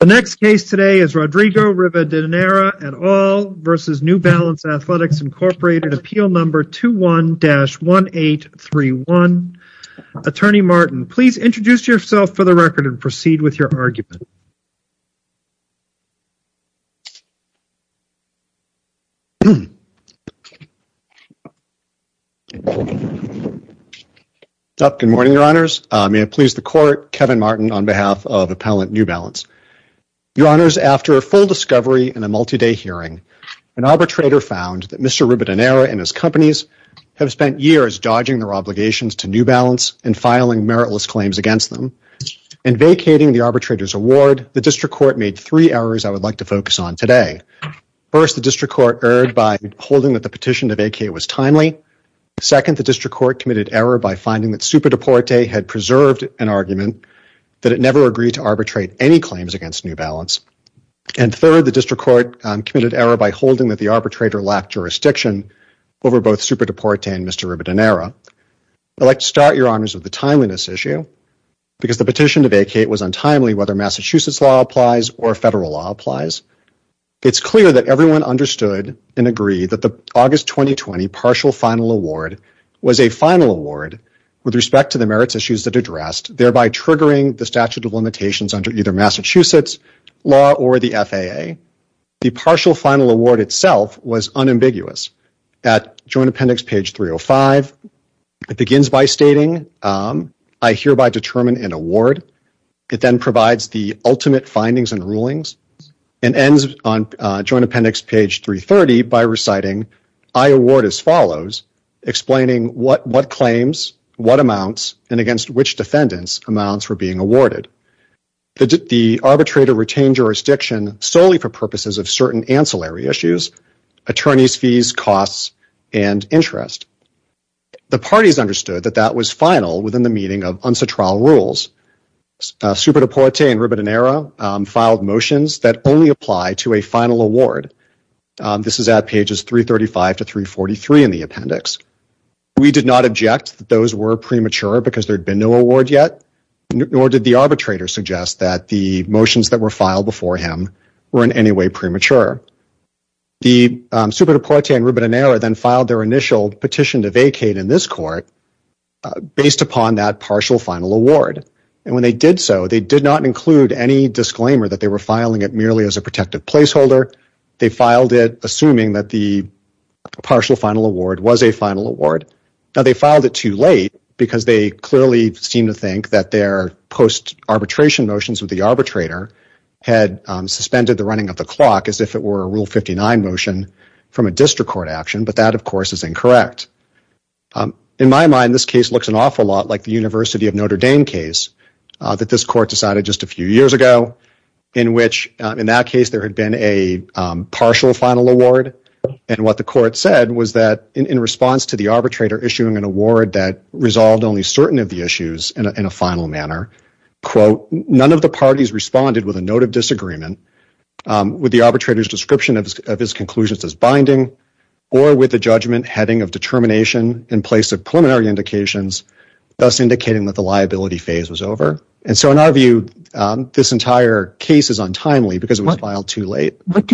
The next case today is Rodrigo Rivadeneira et al. v. New Balance Athletics, Inc. Appeal No. 21-1831. Attorney Martin, please introduce yourself for the record and proceed with your argument. Good morning, Your Honors. May it please the Court, Kevin Martin on behalf of Appellant New Balance. Your Honors, after a full discovery and a multi-day hearing, an arbitrator found that Mr. Rivadeneira and his companies have spent years dodging their obligations to New Balance and filing meritless claims against them. In vacating the arbitrator's award, the District Court made three errors I would like to focus on today. First, the District Court erred by holding that the petition to vacate was timely. Second, the District Court committed error by finding that Superdeporte had preserved an argument that it never agreed to arbitrate any claims against New Balance. And third, the District Court committed error by holding that the arbitrator lacked jurisdiction over both Superdeporte and Mr. Rivadeneira. I would like to start, Your Honors, with the timeliness issue because the petition to vacate was untimely whether Massachusetts law applies or federal law applies. It's clear that everyone understood and agreed that the August 2020 Partial Final Award was a final award with respect to the merits issues that are addressed, thereby triggering the statute of limitations under either Massachusetts law or the FAA. The Partial Final Award itself was unambiguous. At Joint Appendix page 305, it begins by stating, I hereby determine and award. It then provides the ultimate findings and rulings and ends on Joint Appendix page 330 by reciting, I award as follows, explaining what claims, what amounts, and against which defendants amounts were being awarded. The arbitrator retained jurisdiction solely for purposes of certain ancillary issues, attorneys' fees, costs, and interest. The parties understood that that was final within the meaning of unsuitable rules. Superdeporte and Rivadeneira filed motions that only apply to a final award. This is at pages 335 to 343 in the appendix. We did not object that those were premature because there had been no award yet, nor did the arbitrator suggest that the motions that were filed before him were in any way premature. The Superdeporte and Rivadeneira then filed their initial petition to vacate in this court based upon that Partial Final Award. And when they did so, they did not include any disclaimer that they were filing it merely as a protective placeholder. They filed it assuming that the Partial Final Award was a final award. Now, they filed it too late because they clearly seem to think that their post-arbitration motions with the arbitrator had suspended the running of the clock as if it were a Rule 59 motion from a district court action, but that, of course, is incorrect. In my mind, this case looks an awful lot like the University of Notre Dame case that this court decided just a few years ago, in which, in that case, there had been a Partial Final Award. And what the court said was that, in response to the arbitrator issuing an award that resolved only certain of the issues in a final manner, quote, none of the parties responded with a note of disagreement with the arbitrator's description of his conclusions as binding or with the judgment heading of determination in place of preliminary indications, thus indicating that the liability phase was over. And so, in our view, this entire case is untimely because it was filed too late. It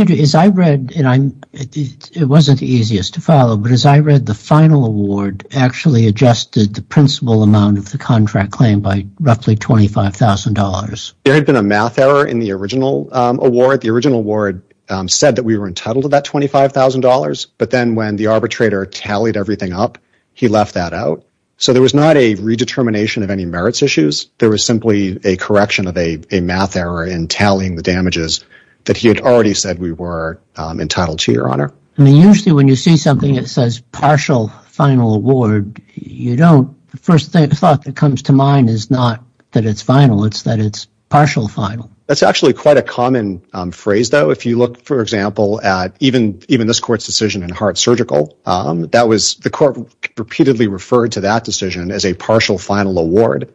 wasn't the easiest to follow, but as I read, the final award actually adjusted the principal amount of the contract claim by roughly $25,000. There had been a math error in the original award. The original award said that we were entitled to that $25,000, but then when the arbitrator tallied everything up, he left that out. So, there was not a redetermination of any merits issues. There was simply a correction of a math error in tallying the damages that he had already said we were entitled to, Your Honor. I mean, usually when you see something that says Partial Final Award, the first thought that comes to mind is not that it's final, it's that it's partial final. That's actually quite a common phrase, though. If you look, for example, at even this court's decision in Hart Surgical, the court repeatedly referred to that decision as a Partial Final Award.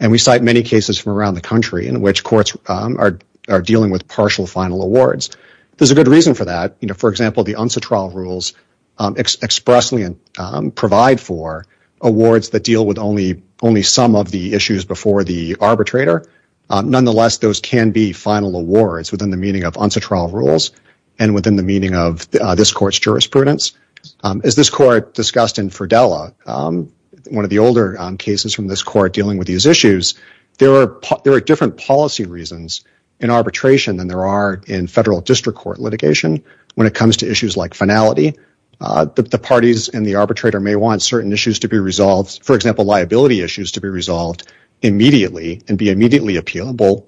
We cite many cases from around the country in which courts are dealing with partial final awards. There's a good reason for that. For example, the UNSA trial rules expressly provide for awards that deal with only some of the issues before the arbitrator. Nonetheless, those can be final awards within the meaning of UNSA trial rules and within the meaning of this court's jurisprudence. As this court discussed in Fridella, one of the older cases from this court dealing with these issues, there are different policy reasons in arbitration than there are in federal district court litigation when it comes to issues like finality. The parties and the arbitrator may want certain issues to be resolved, for example, liability issues to be resolved immediately and be immediately appealable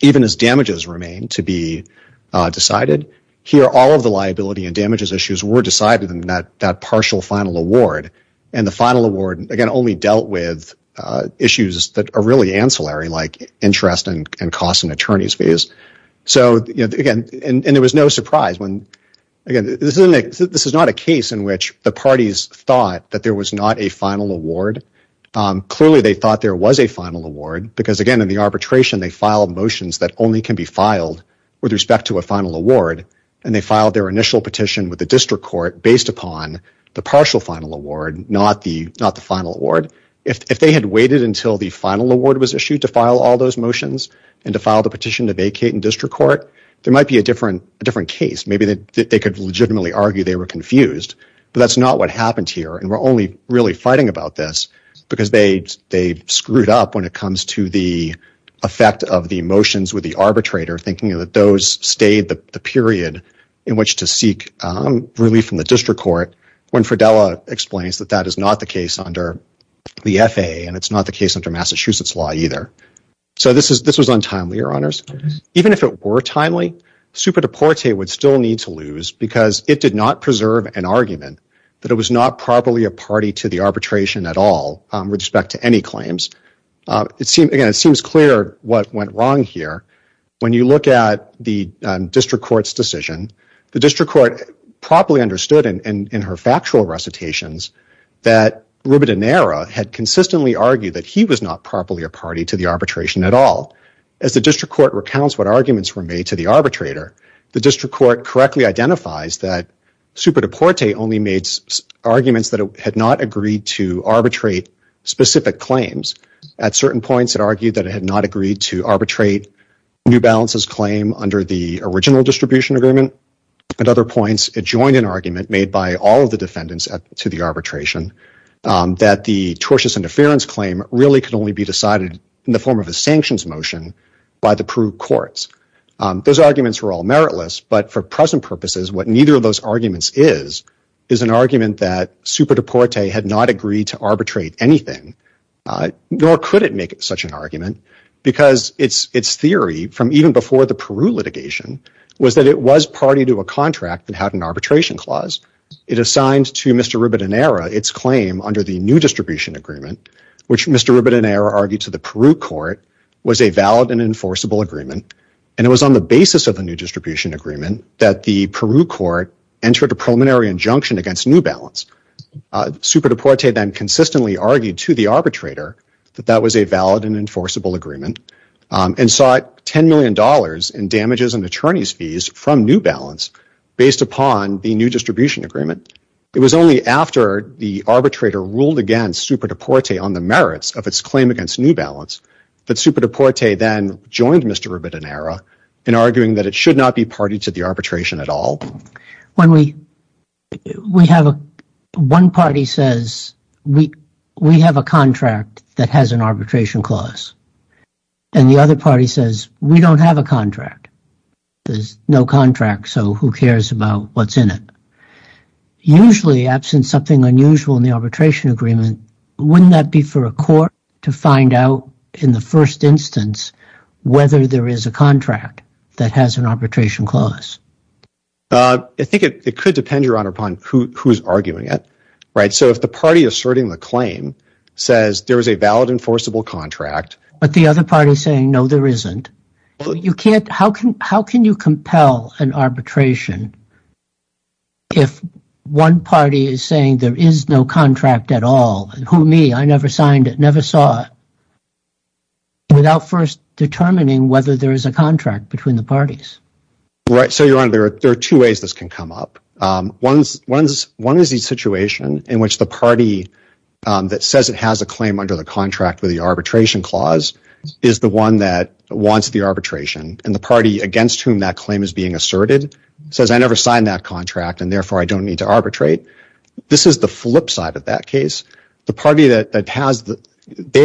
even as damages remain to be decided. Here, all of the liability and damages issues were decided in that partial final award, and the final award, again, only dealt with issues that are really ancillary like interest and cost in attorney's fees. So, again, and there was no surprise when, again, this is not a case in which the parties thought that there was not a final award. Clearly, they thought there was a final award because, again, in the arbitration, they filed motions that only can be filed with respect to a final award, and they filed their initial petition with the district court based upon the partial final award, not the final award. If they had waited until the final award was issued to file all those motions and to file the petition to vacate in district court, there might be a different case. Maybe they could legitimately argue they were confused, but that's not what happened here, and we're only really fighting about this because they screwed up when it comes to the effect of the motions with the arbitrator, thinking that those stayed the period in which to seek relief from the district court when Fridella explains that that is not the case under the FAA, and it's not the case under Massachusetts law either. So, this was untimely, Your Honors. Even if it were timely, Superdeporte would still need to lose because it did not preserve an argument that it was not properly a party to the arbitration at all with respect to any claims. Again, it seems clear what went wrong here. When you look at the district court's decision, the district court properly understood in her factual recitations that Rubidonera had consistently argued that he was not properly a party to the arbitration at all. As the district court recounts what arguments were made to the arbitrator, the district court correctly identifies that Superdeporte only made arguments that had not agreed to At certain points, it argued that it had not agreed to arbitrate New Balance's claim under the original distribution agreement. At other points, it joined an argument made by all of the defendants to the arbitration that the tortious interference claim really could only be decided in the form of a sanctions motion by the approved courts. Those arguments were all meritless, but for present purposes, what neither of those arguments is an argument that Superdeporte had not agreed to arbitrate anything, nor could it make such an argument because its theory from even before the Peru litigation was that it was party to a contract that had an arbitration clause. It assigned to Mr. Rubidonera its claim under the new distribution agreement, which Mr. Rubidonera argued to the Peru court was a valid and enforceable agreement, and it was on the basis of the new distribution agreement that the Peru court entered a preliminary injunction against New Balance. Superdeporte then consistently argued to the arbitrator that that was a valid and enforceable agreement and sought $10 million in damages and attorney's fees from New Balance based upon the new distribution agreement. It was only after the arbitrator ruled against Superdeporte on the merits of its claim against New Balance that Superdeporte then joined Mr. Rubidonera in arguing that it should not be party to the arbitration at all. One party says we have a contract that has an arbitration clause, and the other party says we don't have a contract. There's no contract, so who cares about what's in it? Usually, absent something unusual in the arbitration agreement, wouldn't that be for a court to find out in the first instance whether there is a contract that has an arbitration clause? I think it could depend, Your Honor, upon who's arguing it. So if the party asserting the claim says there is a valid and enforceable contract... But the other party is saying no, there isn't. How can you compel an arbitration if one party is saying there is no contract at all? Who, me? I never signed it, never saw it. Without first determining whether there is a contract between the parties. Right, so Your Honor, there are two ways this can come up. One is the situation in which the party that says it has a claim under the contract with the arbitration clause is the one that wants the arbitration, and the party against whom that claim is being asserted says I never signed that contract, and therefore I don't need to arbitrate. This is the flip side of that case. They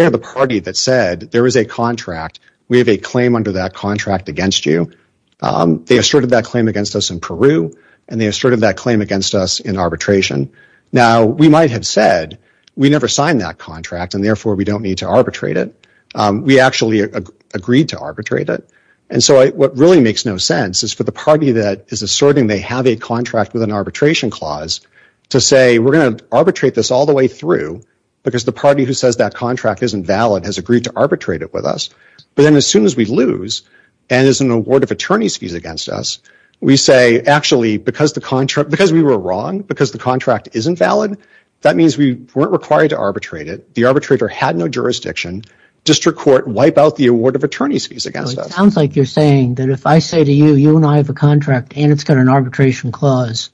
are the party that said there is a contract. We have a claim under that contract against you. They asserted that claim against us in Peru, and they asserted that claim against us in arbitration. Now, we might have said we never signed that contract, and therefore we don't need to arbitrate it. We actually agreed to arbitrate it. And so what really makes no sense is for the party that is asserting they have a contract with an arbitration clause to say we are going to arbitrate this all the way through because the party who says that contract isn't valid has agreed to arbitrate it with us, but then as soon as we lose and there is an award of attorney's fees against us, we say actually because we were wrong, because the contract isn't valid, that means we weren't required to arbitrate it. The arbitrator had no jurisdiction. District court, wipe out the award of attorney's fees against us. It sounds like you are saying that if I say to you, you and I have a contract and it has been an arbitration clause,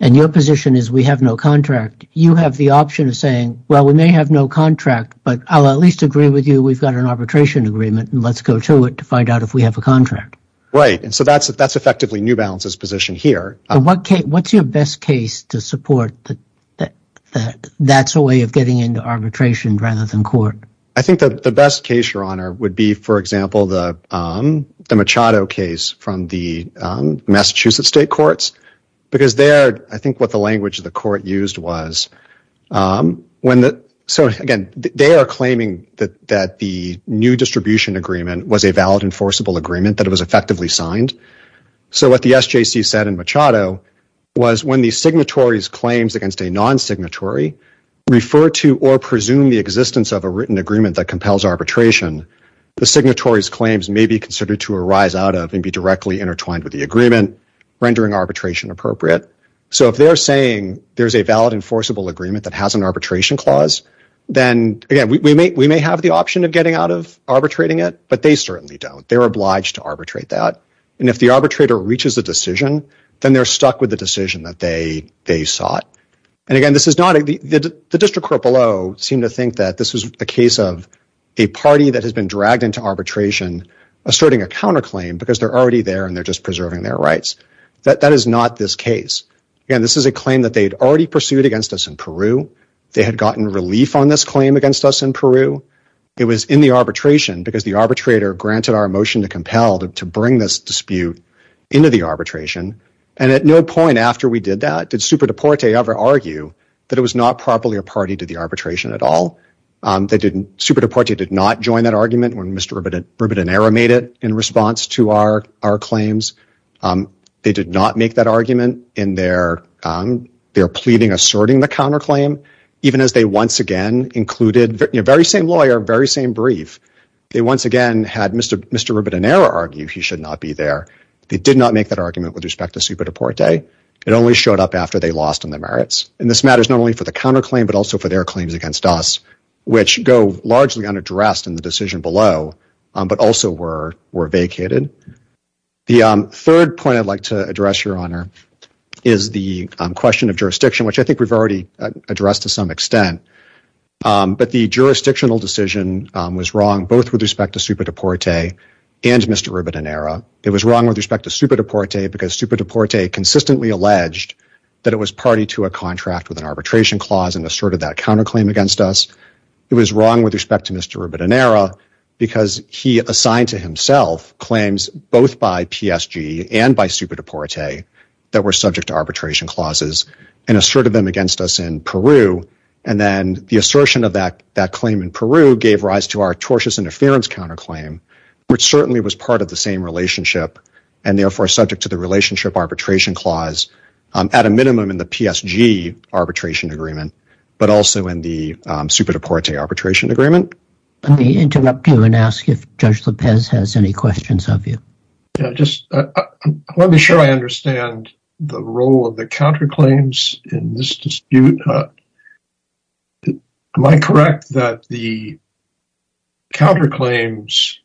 and your position is we have no contract, you have the option of saying, well, we may have no contract, but I'll at least agree with you we've got an arbitration agreement, and let's go to it to find out if we have a contract. Right, and so that's effectively New Balance's position here. What's your best case to support that that's a way of getting into arbitration rather than court? I think that the best case, Your Honor, would be, for example, the Machado case from the Massachusetts State Courts, because there, I think what the language of the court used was, so again, they are claiming that the new distribution agreement was a valid enforceable agreement, that it was effectively signed. So what the SJC said in Machado was when the signatory's claims against a non-signatory refer to or presume the existence of a written agreement that compels arbitration, the signatory's rendering arbitration appropriate. So if they're saying there's a valid enforceable agreement that has an arbitration clause, then again, we may have the option of getting out of arbitrating it, but they certainly don't. They're obliged to arbitrate that. And if the arbitrator reaches a decision, then they're stuck with the decision that they sought. And again, the district court below seemed to think that this was a case of a party that has been dragged into arbitration asserting a counterclaim because they're already there and they're just preserving their rights. That is not this case. Again, this is a claim that they had already pursued against us in Peru. They had gotten relief on this claim against us in Peru. It was in the arbitration because the arbitrator granted our motion to compel to bring this dispute into the arbitration. And at no point after we did that did Superdeporte ever argue that it was not properly a party to the arbitration at all. Superdeporte did not join that argument when Mr. Ribadonera made it in response to our claims. They did not make that argument in their pleading asserting the counterclaim, even as they once again included the very same lawyer, very same brief. They once again had Mr. Ribadonera argue he should not be there. They did not make that argument with respect to Superdeporte. It only showed up after they lost on their merits. And this matters not only for the counterclaim, but also for their claims against us, which go largely unaddressed in the decision below, but also were vacated. The third point I'd like to address, Your Honor, is the question of jurisdiction, which I think we've already addressed to some extent. But the jurisdictional decision was wrong both with respect to Superdeporte and Mr. Ribadonera. It was wrong with respect to Superdeporte because Superdeporte consistently alleged that it was party to a contract with an arbitration clause and asserted that counterclaim against us. It was wrong with respect to Mr. Ribadonera because he assigned to himself claims both by PSG and by Superdeporte that were subject to arbitration clauses and asserted them against us in Peru. And then the assertion of that claim in Peru gave rise to our tortious interference counterclaim, which certainly was part of the same relationship and therefore subject to the relationship arbitration clause at a minimum in the PSG arbitration agreement, but also in the Superdeporte arbitration agreement. Let me interrupt you and ask if Judge López has any questions of you. Let me show I understand the role of the counterclaims in this dispute. Am I correct that the counterclaims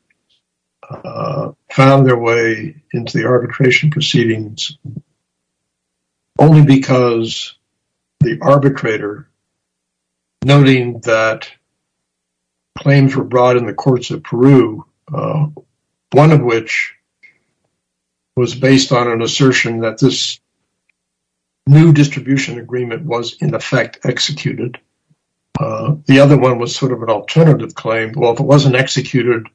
found their way into the arbitration proceedings only because the arbitrator, noting that claims were brought in the courts of Peru, one of which was based on an assertion that this new distribution agreement was in effect executed. The other one was sort of an alternative claim. Well, if it wasn't executed,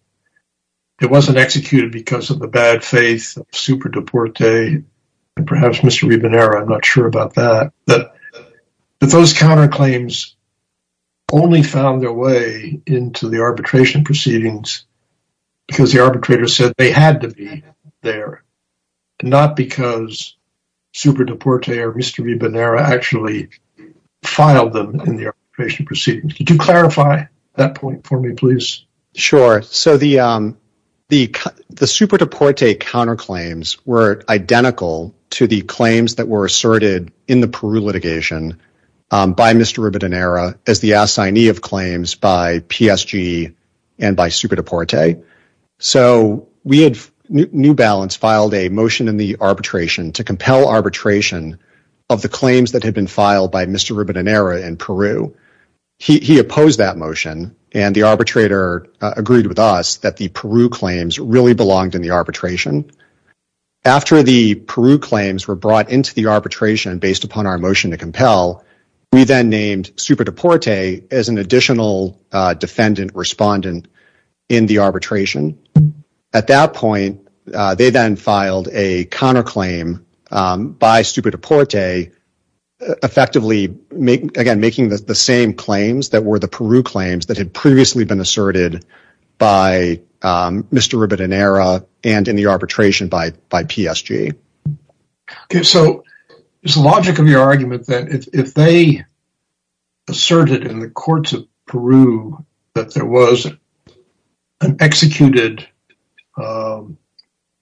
it wasn't executed because of the bad faith of Superdeporte and perhaps Mr. Ribadonera. I'm not sure about that. But those counterclaims only found their way into the arbitration proceedings because the Superdeporte or Mr. Ribadonera actually filed them in the arbitration proceedings. Could you clarify that point for me, please? Sure. So the Superdeporte counterclaims were identical to the claims that were asserted in the Peru litigation by Mr. Ribadonera as the assignee of claims by PSG and by Superdeporte. So New Balance filed a motion in the arbitration to compel arbitration of the claims that had been filed by Mr. Ribadonera in Peru. He opposed that motion and the arbitrator agreed with us that the Peru claims really belonged in the arbitration. After the Peru claims were brought into the arbitration based upon our motion to compel, we then named Superdeporte as an additional defendant respondent in the arbitration. At that point, they then filed a counterclaim by Superdeporte, effectively making the same claims that were the Peru claims that had previously been asserted by Mr. Ribadonera and in the arbitration by PSG. So it's the logic of your argument that if they asserted in the courts of Peru that there was an executed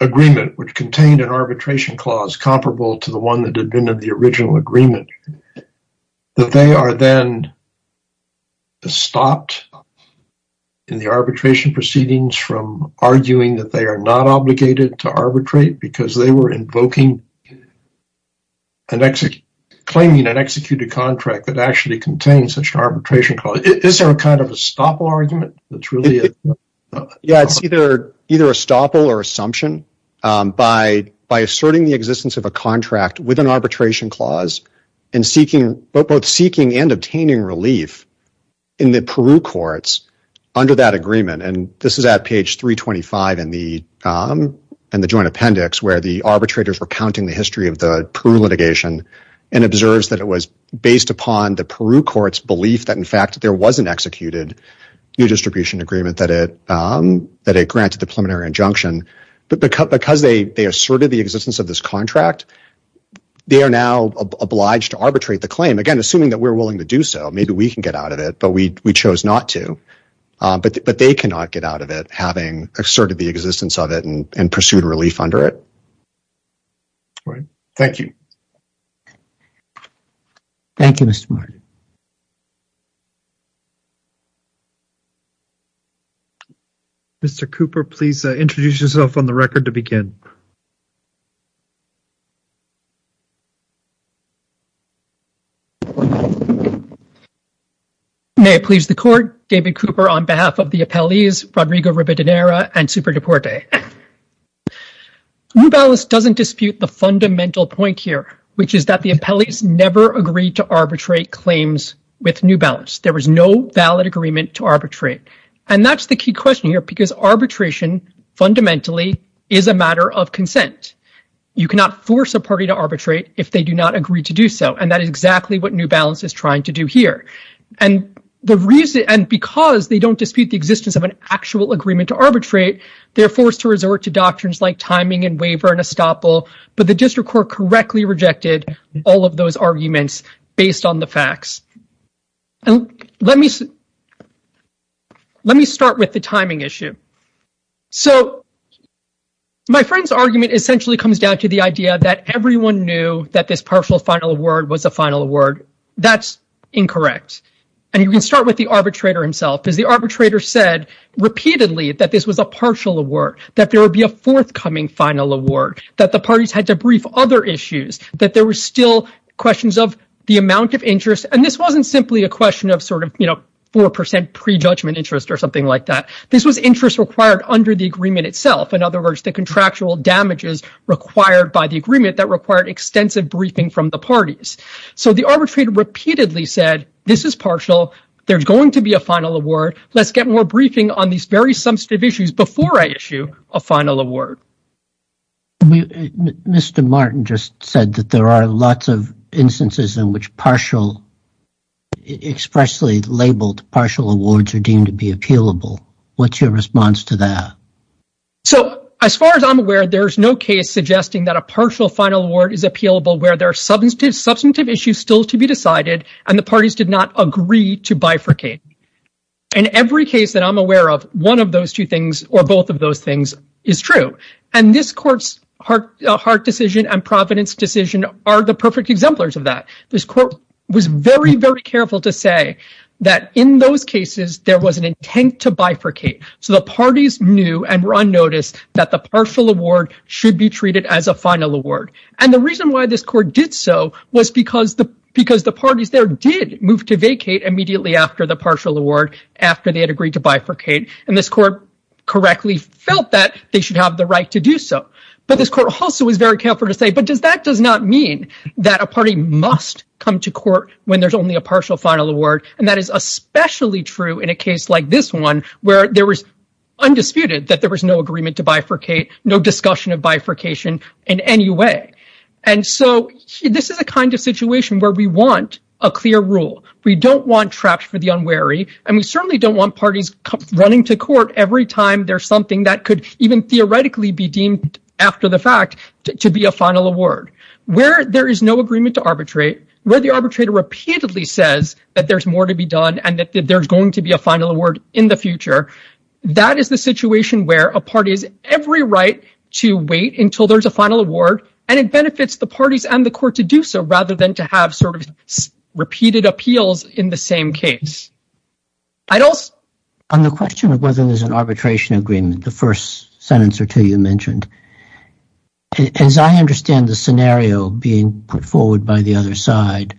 agreement which contained an arbitration clause comparable to the one that had been in the original agreement, that they are then stopped in the arbitration proceedings from arguing that they are not obligated to arbitrate because they were claiming an executed contract that actually contains such an arbitration clause. Is there a kind of a stopple argument? It's either a stopple or assumption by asserting the existence of a contract with an arbitration clause and both seeking and obtaining relief in the Peru courts under that agreement. This is at page 325 in the Joint Appendix where the arbitrators were counting the history of the Peru litigation and observed that it was based upon the Peru courts' belief that in fact there was an executed new distribution agreement that it granted the preliminary injunction, but because they asserted the existence of this contract, they are now obliged to arbitrate the claim. Again, assuming that we're willing to do so, maybe we can get out of it, but we chose not to. But they cannot get out of it having asserted the existence of it and pursued relief under it. Thank you. Thank you, Mr. Martin. Mr. Cooper, please introduce yourself on the record to begin. May it please the Court, David Cooper on behalf of the appellees, Rodrigo Ribadonera and Superdeporte. New Balance doesn't dispute the fundamental point here, which is that the appellees never agreed to arbitrate claims with New Balance. There was no valid agreement to arbitrate, and that's the key question here, because arbitration fundamentally is a matter of consent. You cannot force a party to arbitrate if they do not agree to do so, and that is exactly what New Balance is trying to do here. And because they don't dispute the existence of an actual agreement to arbitrate, they're forced to resort to doctrines like timing and waiver and estoppel, but the District And let me start with the timing issue. So, my friend's argument essentially comes down to the idea that everyone knew that this partial final award was a final award. That's incorrect. And you can start with the arbitrator himself, because the arbitrator said repeatedly that this was a partial award, that there would be a forthcoming final award, that the parties had to brief other issues, that there were still questions of the amount of interest. And this wasn't simply a question of sort of, you know, 4% prejudgment interest or something like that. This was interest required under the agreement itself. In other words, the contractual damages required by the agreement that required extensive briefing from the parties. So, the arbitrator repeatedly said, this is partial. There's going to be a final award. Let's get more briefing on these very substantive issues before I issue a final award. Mr. Martin just said that there are lots of instances in which partial, expressly labeled partial awards are deemed to be appealable. What's your response to that? So, as far as I'm aware, there's no case suggesting that a partial final award is appealable where there are substantive issues still to be decided and the parties did not agree to bifurcate. In every case that I'm aware of, one of those two things or both of those things is true. And this court's Hart decision and Providence decision are the perfect exemplars of that. This court was very, very careful to say that in those cases, there was an intent to bifurcate. So, the parties knew and were on notice that the partial award should be treated as a final award. And the reason why this court did so was because the parties there did move to vacate immediately after the partial award, after they had agreed to bifurcate. And this court correctly felt that they should have the right to do so. But this court also was very careful to say, but does that does not mean that a party must come to court when there's only a partial final award? And that is especially true in a case like this one, where there was undisputed that there was no agreement to bifurcate, no discussion of bifurcation in any way. And so, this is a kind of situation where we want a clear rule. We don't want traps for the unwary. And we certainly don't want parties running to court every time there's something that could even theoretically be deemed after the fact to be a final award, where there is no agreement to arbitrate, where the arbitrator repeatedly says that there's more to be done and that there's going to be a final award in the future. That is the situation where a party has every right to wait until there's a final award. And it benefits the parties and the court to do so rather than to have sort of repeated appeals in the same case. I'd also... On the question of whether there's an arbitration agreement, the first sentence or two you mentioned, as I understand the scenario being put forward by the other side,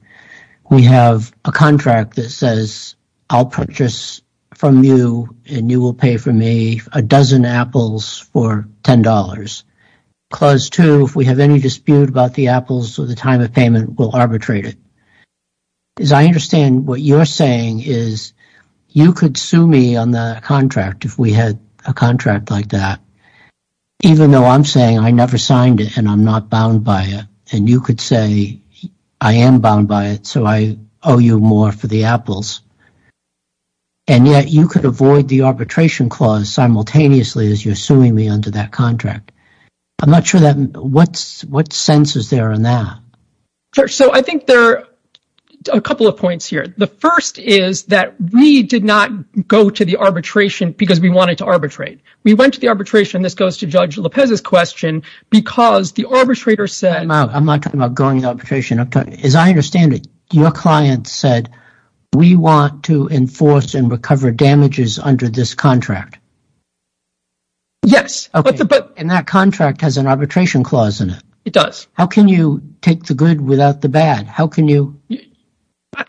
we have a contract that says, I'll purchase from you and you will pay for me a dozen apples for $10. Clause two, if we have any dispute about the apples or the time of payment, we'll arbitrate it. As I understand what you're saying is, you could sue me on the contract if we had a contract like that, even though I'm saying I never signed it and I'm not bound by it. And you could say, I am bound by it, so I owe you more for the apples. And yet you could avoid the arbitration clause simultaneously as you're suing me under that contract. I'm not sure that... What sense is there in that? So I think there are a couple of points here. The first is that we did not go to the arbitration because we wanted to arbitrate. We went to the arbitration. This goes to Judge Lopez's question because the arbitrator said... I'm not talking about going to arbitration. As I understand it, your client said, we want to enforce and recover damages under this contract. Yes. And that contract has an arbitration clause in it. It does. How can you take the good without the bad? How can you...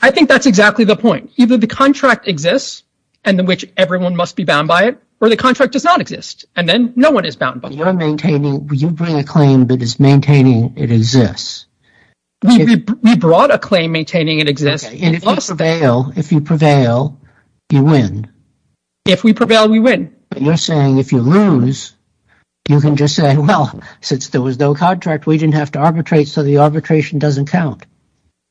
I think that's exactly the point. Either the contract exists and in which everyone must be bound by it, or the contract does not exist. And then no one is bound by it. You bring a claim that is maintaining it exists. We brought a claim maintaining it exists. If you prevail, you win. If we prevail, we win. You're saying if you lose, you can just say, well, since there was no contract, we didn't have to arbitrate, so the arbitration doesn't count.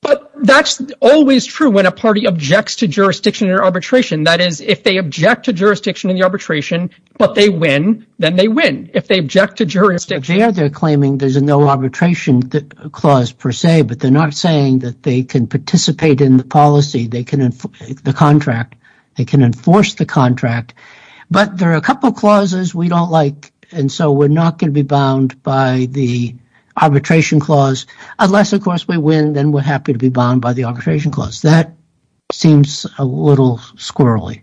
But that's always true when a party objects to jurisdiction or arbitration. That is, if they object to jurisdiction and arbitration, but they win, then they win. If they object to jurisdiction... But they're not saying that they can participate in the policy, the contract. They can enforce the contract. But there are a couple clauses we don't like, and so we're not going to be bound by the arbitration clause. Unless, of course, we win, then we're happy to be bound by the arbitration clause. That seems a little squirrely.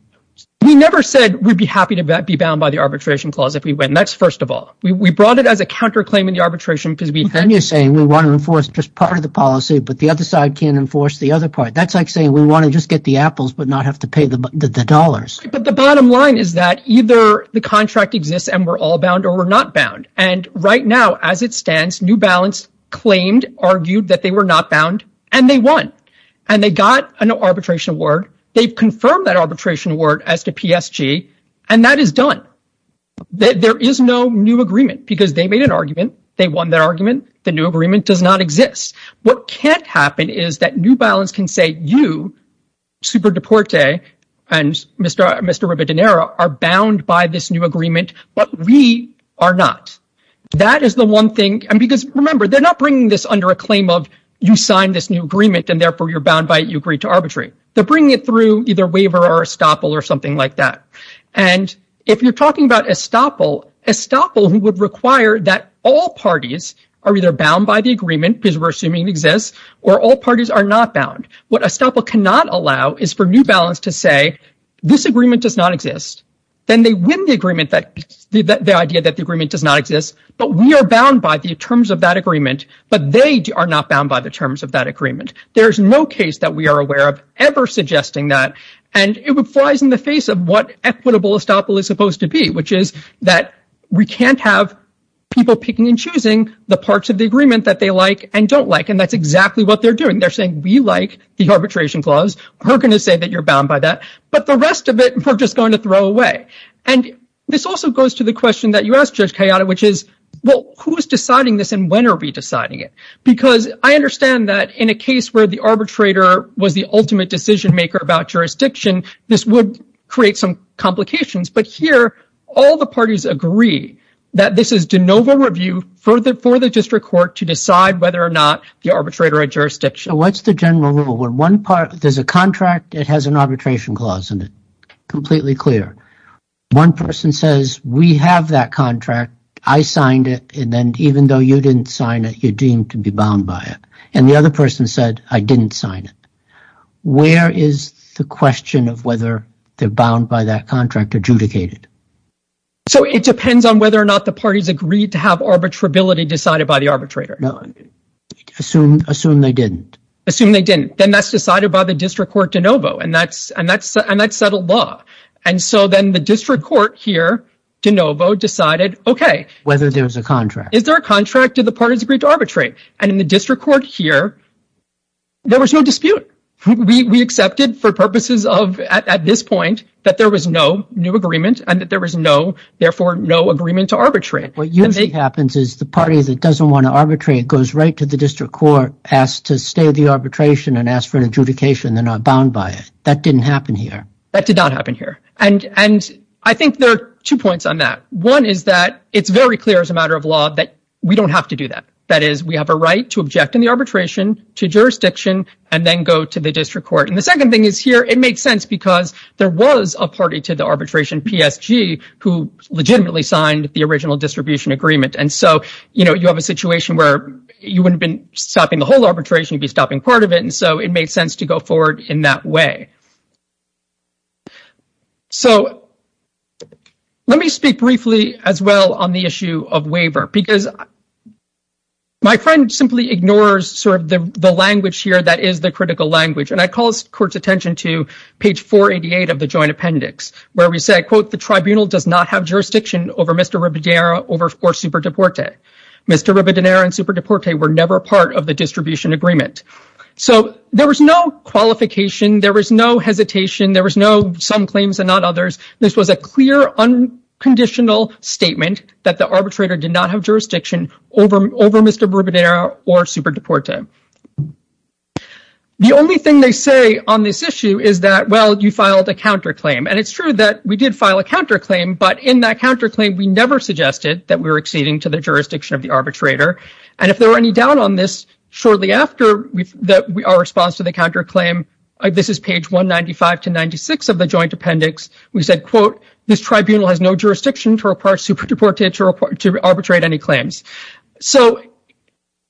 We never said we'd be happy to be bound by the arbitration clause if we win. That's first of all. We brought it as a counterclaim in the arbitration because we... We can enforce just part of the policy, but the other side can't enforce the other part. That's like saying we want to just get the apples but not have to pay the dollars. But the bottom line is that either the contract exists and we're all bound or we're not bound. And right now, as it stands, New Balance claimed, argued that they were not bound, and they won. And they got an arbitration award. They've confirmed that arbitration award as to PSG, and that is done. There is no new agreement because they made an argument. They won their argument. The new agreement does not exist. What can't happen is that New Balance can say, you, Super Deporte, and Mr. Ribadonera are bound by this new agreement, but we are not. That is the one thing. And because, remember, they're not bringing this under a claim of you signed this new agreement, and therefore you're bound by it, you agree to arbitrary. They're bringing it through either waiver or estoppel or something like that. And if you're talking about estoppel, estoppel would require that all parties are either bound by the agreement because we're assuming it exists or all parties are not bound. What estoppel cannot allow is for New Balance to say this agreement does not exist. Then they win the agreement, the idea that the agreement does not exist. But we are bound by the terms of that agreement, but they are not bound by the terms of that agreement. There is no case that we are aware of ever suggesting that. And it flies in the face of what equitable estoppel is supposed to be, which is that we can't have people picking and choosing the parts of the agreement that they like and don't like. And that's exactly what they're doing. They're saying we like the arbitration clause. We're going to say that you're bound by that. But the rest of it, we're just going to throw away. And this also goes to the question that you asked, Judge Kayada, which is, well, who is deciding this and when are we deciding it? Because I understand that in a case where the arbitrator was the ultimate decision maker about jurisdiction, this would create some complications. But here all the parties agree that this is de novo review for the for the district court to decide whether or not the arbitrator or jurisdiction. What's the general rule when one part there's a contract? It has an arbitration clause in it. Completely clear. One person says we have that contract. I signed it. And then even though you didn't sign it, you deem to be bound by it. And the other person said, I didn't sign it. Where is the question of whether they're bound by that contract adjudicated? So it depends on whether or not the parties agreed to have arbitrability decided by the arbitrator. No, assume assume they didn't assume they didn't. Then that's decided by the district court de novo. And that's and that's and that's settled law. And so then the district court here de novo decided, OK, whether there was a contract. Is there a contract to the parties agreed to arbitrate? And in the district court here. There was no dispute. We accepted for purposes of at this point that there was no new agreement and that there was no, therefore, no agreement to arbitrate. What usually happens is the party that doesn't want to arbitrate goes right to the district court, asked to stay the arbitration and asked for an adjudication. They're not bound by it. That didn't happen here. That did not happen here. And and I think there are two points on that. One is that it's very clear as a matter of law that we don't have to do that. That is, we have a right to object in the arbitration to jurisdiction and then go to the district court. And the second thing is here. It makes sense because there was a party to the arbitration, PSG, who legitimately signed the original distribution agreement. And so, you know, you have a situation where you wouldn't been stopping the whole arbitration, be stopping part of it. And so it made sense to go forward in that way. So let me speak briefly as well on the issue of waiver, because my friend simply ignores sort of the language here. That is the critical language. And I call court's attention to page 488 of the joint appendix, where we say, quote, the tribunal does not have jurisdiction over Mr. Ribadiera or Superdeporte. Mr. Ribadiera and Superdeporte were never part of the distribution agreement. So there was no qualification. There was no hesitation. There was no some claims and not others. This was a clear, unconditional statement that the arbitrator did not have jurisdiction over Mr. Ribadiera or Superdeporte. The only thing they say on this issue is that, well, you filed a counterclaim. And it's true that we did file a counterclaim. But in that counterclaim, we never suggested that we were acceding to the jurisdiction of the arbitrator. And if there were any doubt on this shortly after our response to the counterclaim, this is page 195 to 96 of the joint appendix. We said, quote, this tribunal has no jurisdiction to arbitrate any claims. So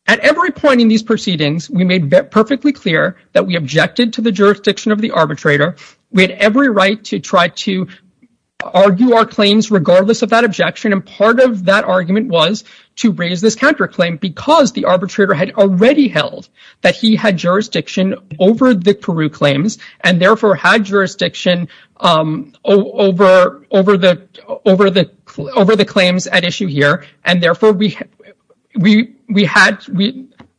at every point in these proceedings, we made perfectly clear that we objected to the jurisdiction of the arbitrator. We had every right to try to argue our claims regardless of that objection. And part of that argument was to raise this counterclaim because the arbitrator had already held that he had jurisdiction over the Peru claims and, therefore, had jurisdiction over the claims at issue here. And, therefore, we had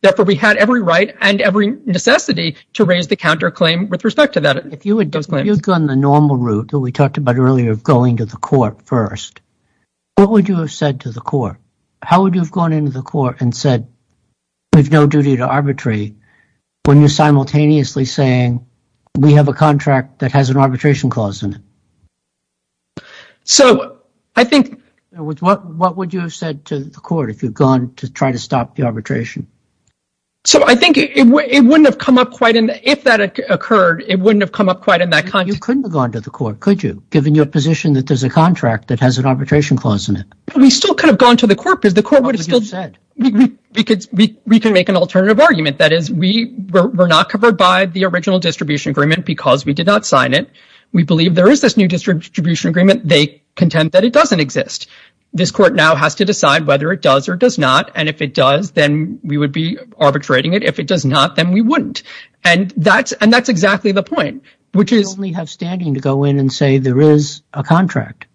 every right and every necessity to raise the counterclaim with respect to that. If you had gone the normal route that we talked about earlier of going to the court first, what would you have said to the court? How would you have gone into the court and said there's no duty to arbitrate when you're simultaneously saying we have a contract that has an arbitration clause in it? So I think what would you have said to the court if you'd gone to try to stop the arbitration? So I think it wouldn't have come up quite in if that occurred. It wouldn't have come up quite in that context. You couldn't have gone to the court, could you, given your position that there's a contract that has an arbitration clause in it? We still could have gone to the court because the court would have said we could we can make an alternative argument. That is, we were not covered by the original distribution agreement because we did not sign it. We believe there is this new distribution agreement. They contend that it doesn't exist. This court now has to decide whether it does or does not. And if it does, then we would be arbitrating it. If it does not, then we wouldn't. And that's and that's exactly the point, which is we have standing to go in and say there is a contract.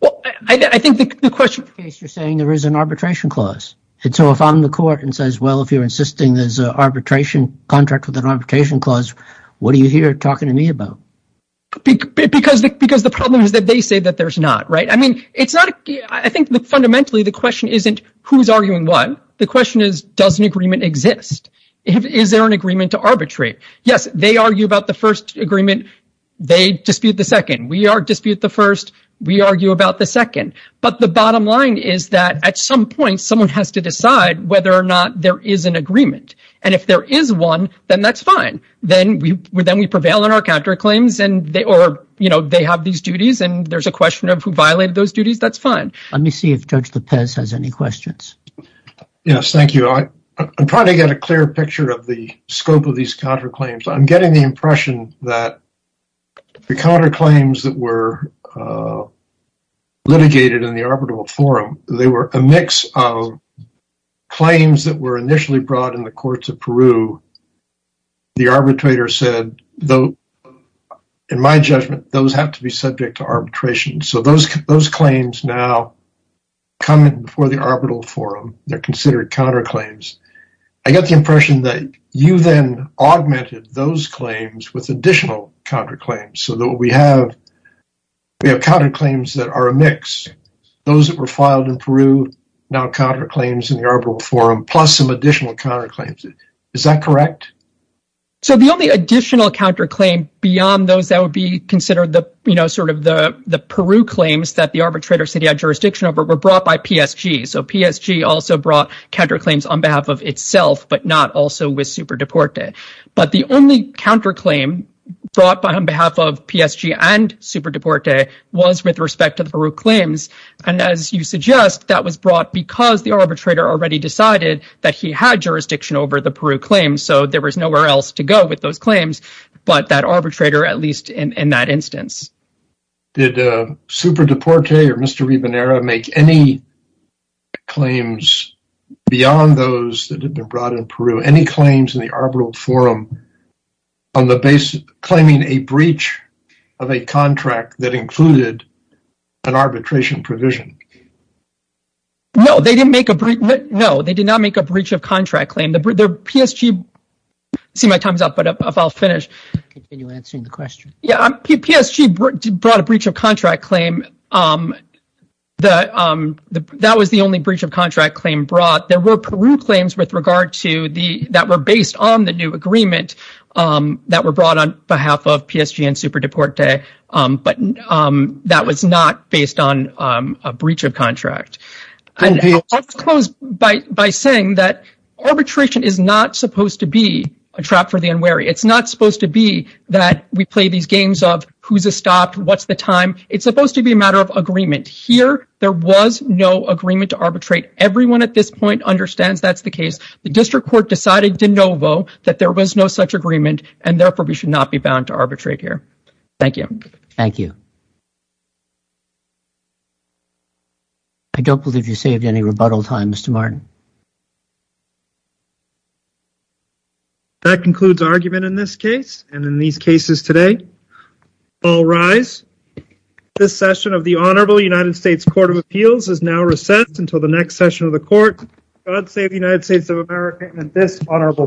Well, I think the question is you're saying there is an arbitration clause. And so if I'm the court and says, well, if you're insisting there's an arbitration contract with an arbitration clause, what are you here talking to me about? Because because the problem is that they say that there's not right. I mean, it's not I think fundamentally the question isn't who's arguing what the question is, does an agreement exist? Is there an agreement to arbitrate? Yes. They argue about the first agreement. They dispute the second. We are dispute the first. We argue about the second. But the bottom line is that at some point someone has to decide whether or not there is an agreement. And if there is one, then that's fine. Then we then we prevail in our counterclaims. And they or they have these duties. And there's a question of who violated those duties. That's fine. Let me see if Judge Lopez has any questions. Yes. Thank you. I'm trying to get a clear picture of the scope of these counterclaims. I'm getting the impression that the counterclaims that were litigated in the arbitral forum, they were a mix of claims that were initially brought in the courts of Peru. The arbitrator said, though, in my judgment, those have to be subject to arbitration. So those those claims now come before the arbitral forum. They're considered counterclaims. I got the impression that you then augmented those claims with additional counterclaims. So that we have we have counterclaims that are a mix. Those that were filed in Peru now counterclaims in the arbitral forum, plus some additional counterclaims. Is that correct? So the only additional counterclaim beyond those that would be considered the sort of the the Peru claims that the arbitrator said he had jurisdiction over were brought by PSG. So PSG also brought counterclaims on behalf of itself, but not also with Super Deporte. But the only counterclaim brought by on behalf of PSG and Super Deporte was with respect to the Peru claims. And as you suggest, that was brought because the arbitrator already decided that he had jurisdiction over the Peru claims. So there was nowhere else to go with those claims. But that arbitrator, at least in that instance. Did Super Deporte or Mr. Ribonera make any claims beyond those that have been brought in Peru? Any claims in the arbitral forum on the basis of claiming a breach of a contract that included an arbitration provision? No, they didn't make a breach. No, they did not make a breach of contract claim. See my time's up, but if I'll finish answering the question. Yeah, PSG brought a breach of contract claim that that was the only breach of contract claim brought. There were Peru claims with regard to the that were based on the new agreement that were brought on behalf of PSG and Super Deporte. But that was not based on a breach of contract. And I'll close by saying that arbitration is not supposed to be a trap for the unwary. It's not supposed to be that we play these games of who's a stopped, what's the time. It's supposed to be a matter of agreement here. There was no agreement to arbitrate. Everyone at this point understands that's the case. The district court decided de novo that there was no such agreement and therefore we should not be bound to arbitrate here. Thank you. Thank you. I don't believe you saved any rebuttal time, Mr. Martin. That concludes argument in this case and in these cases today. All rise. This session of the Honorable United States Court of Appeals is now recessed until the next session of the court. God save the United States of America and this honorable court.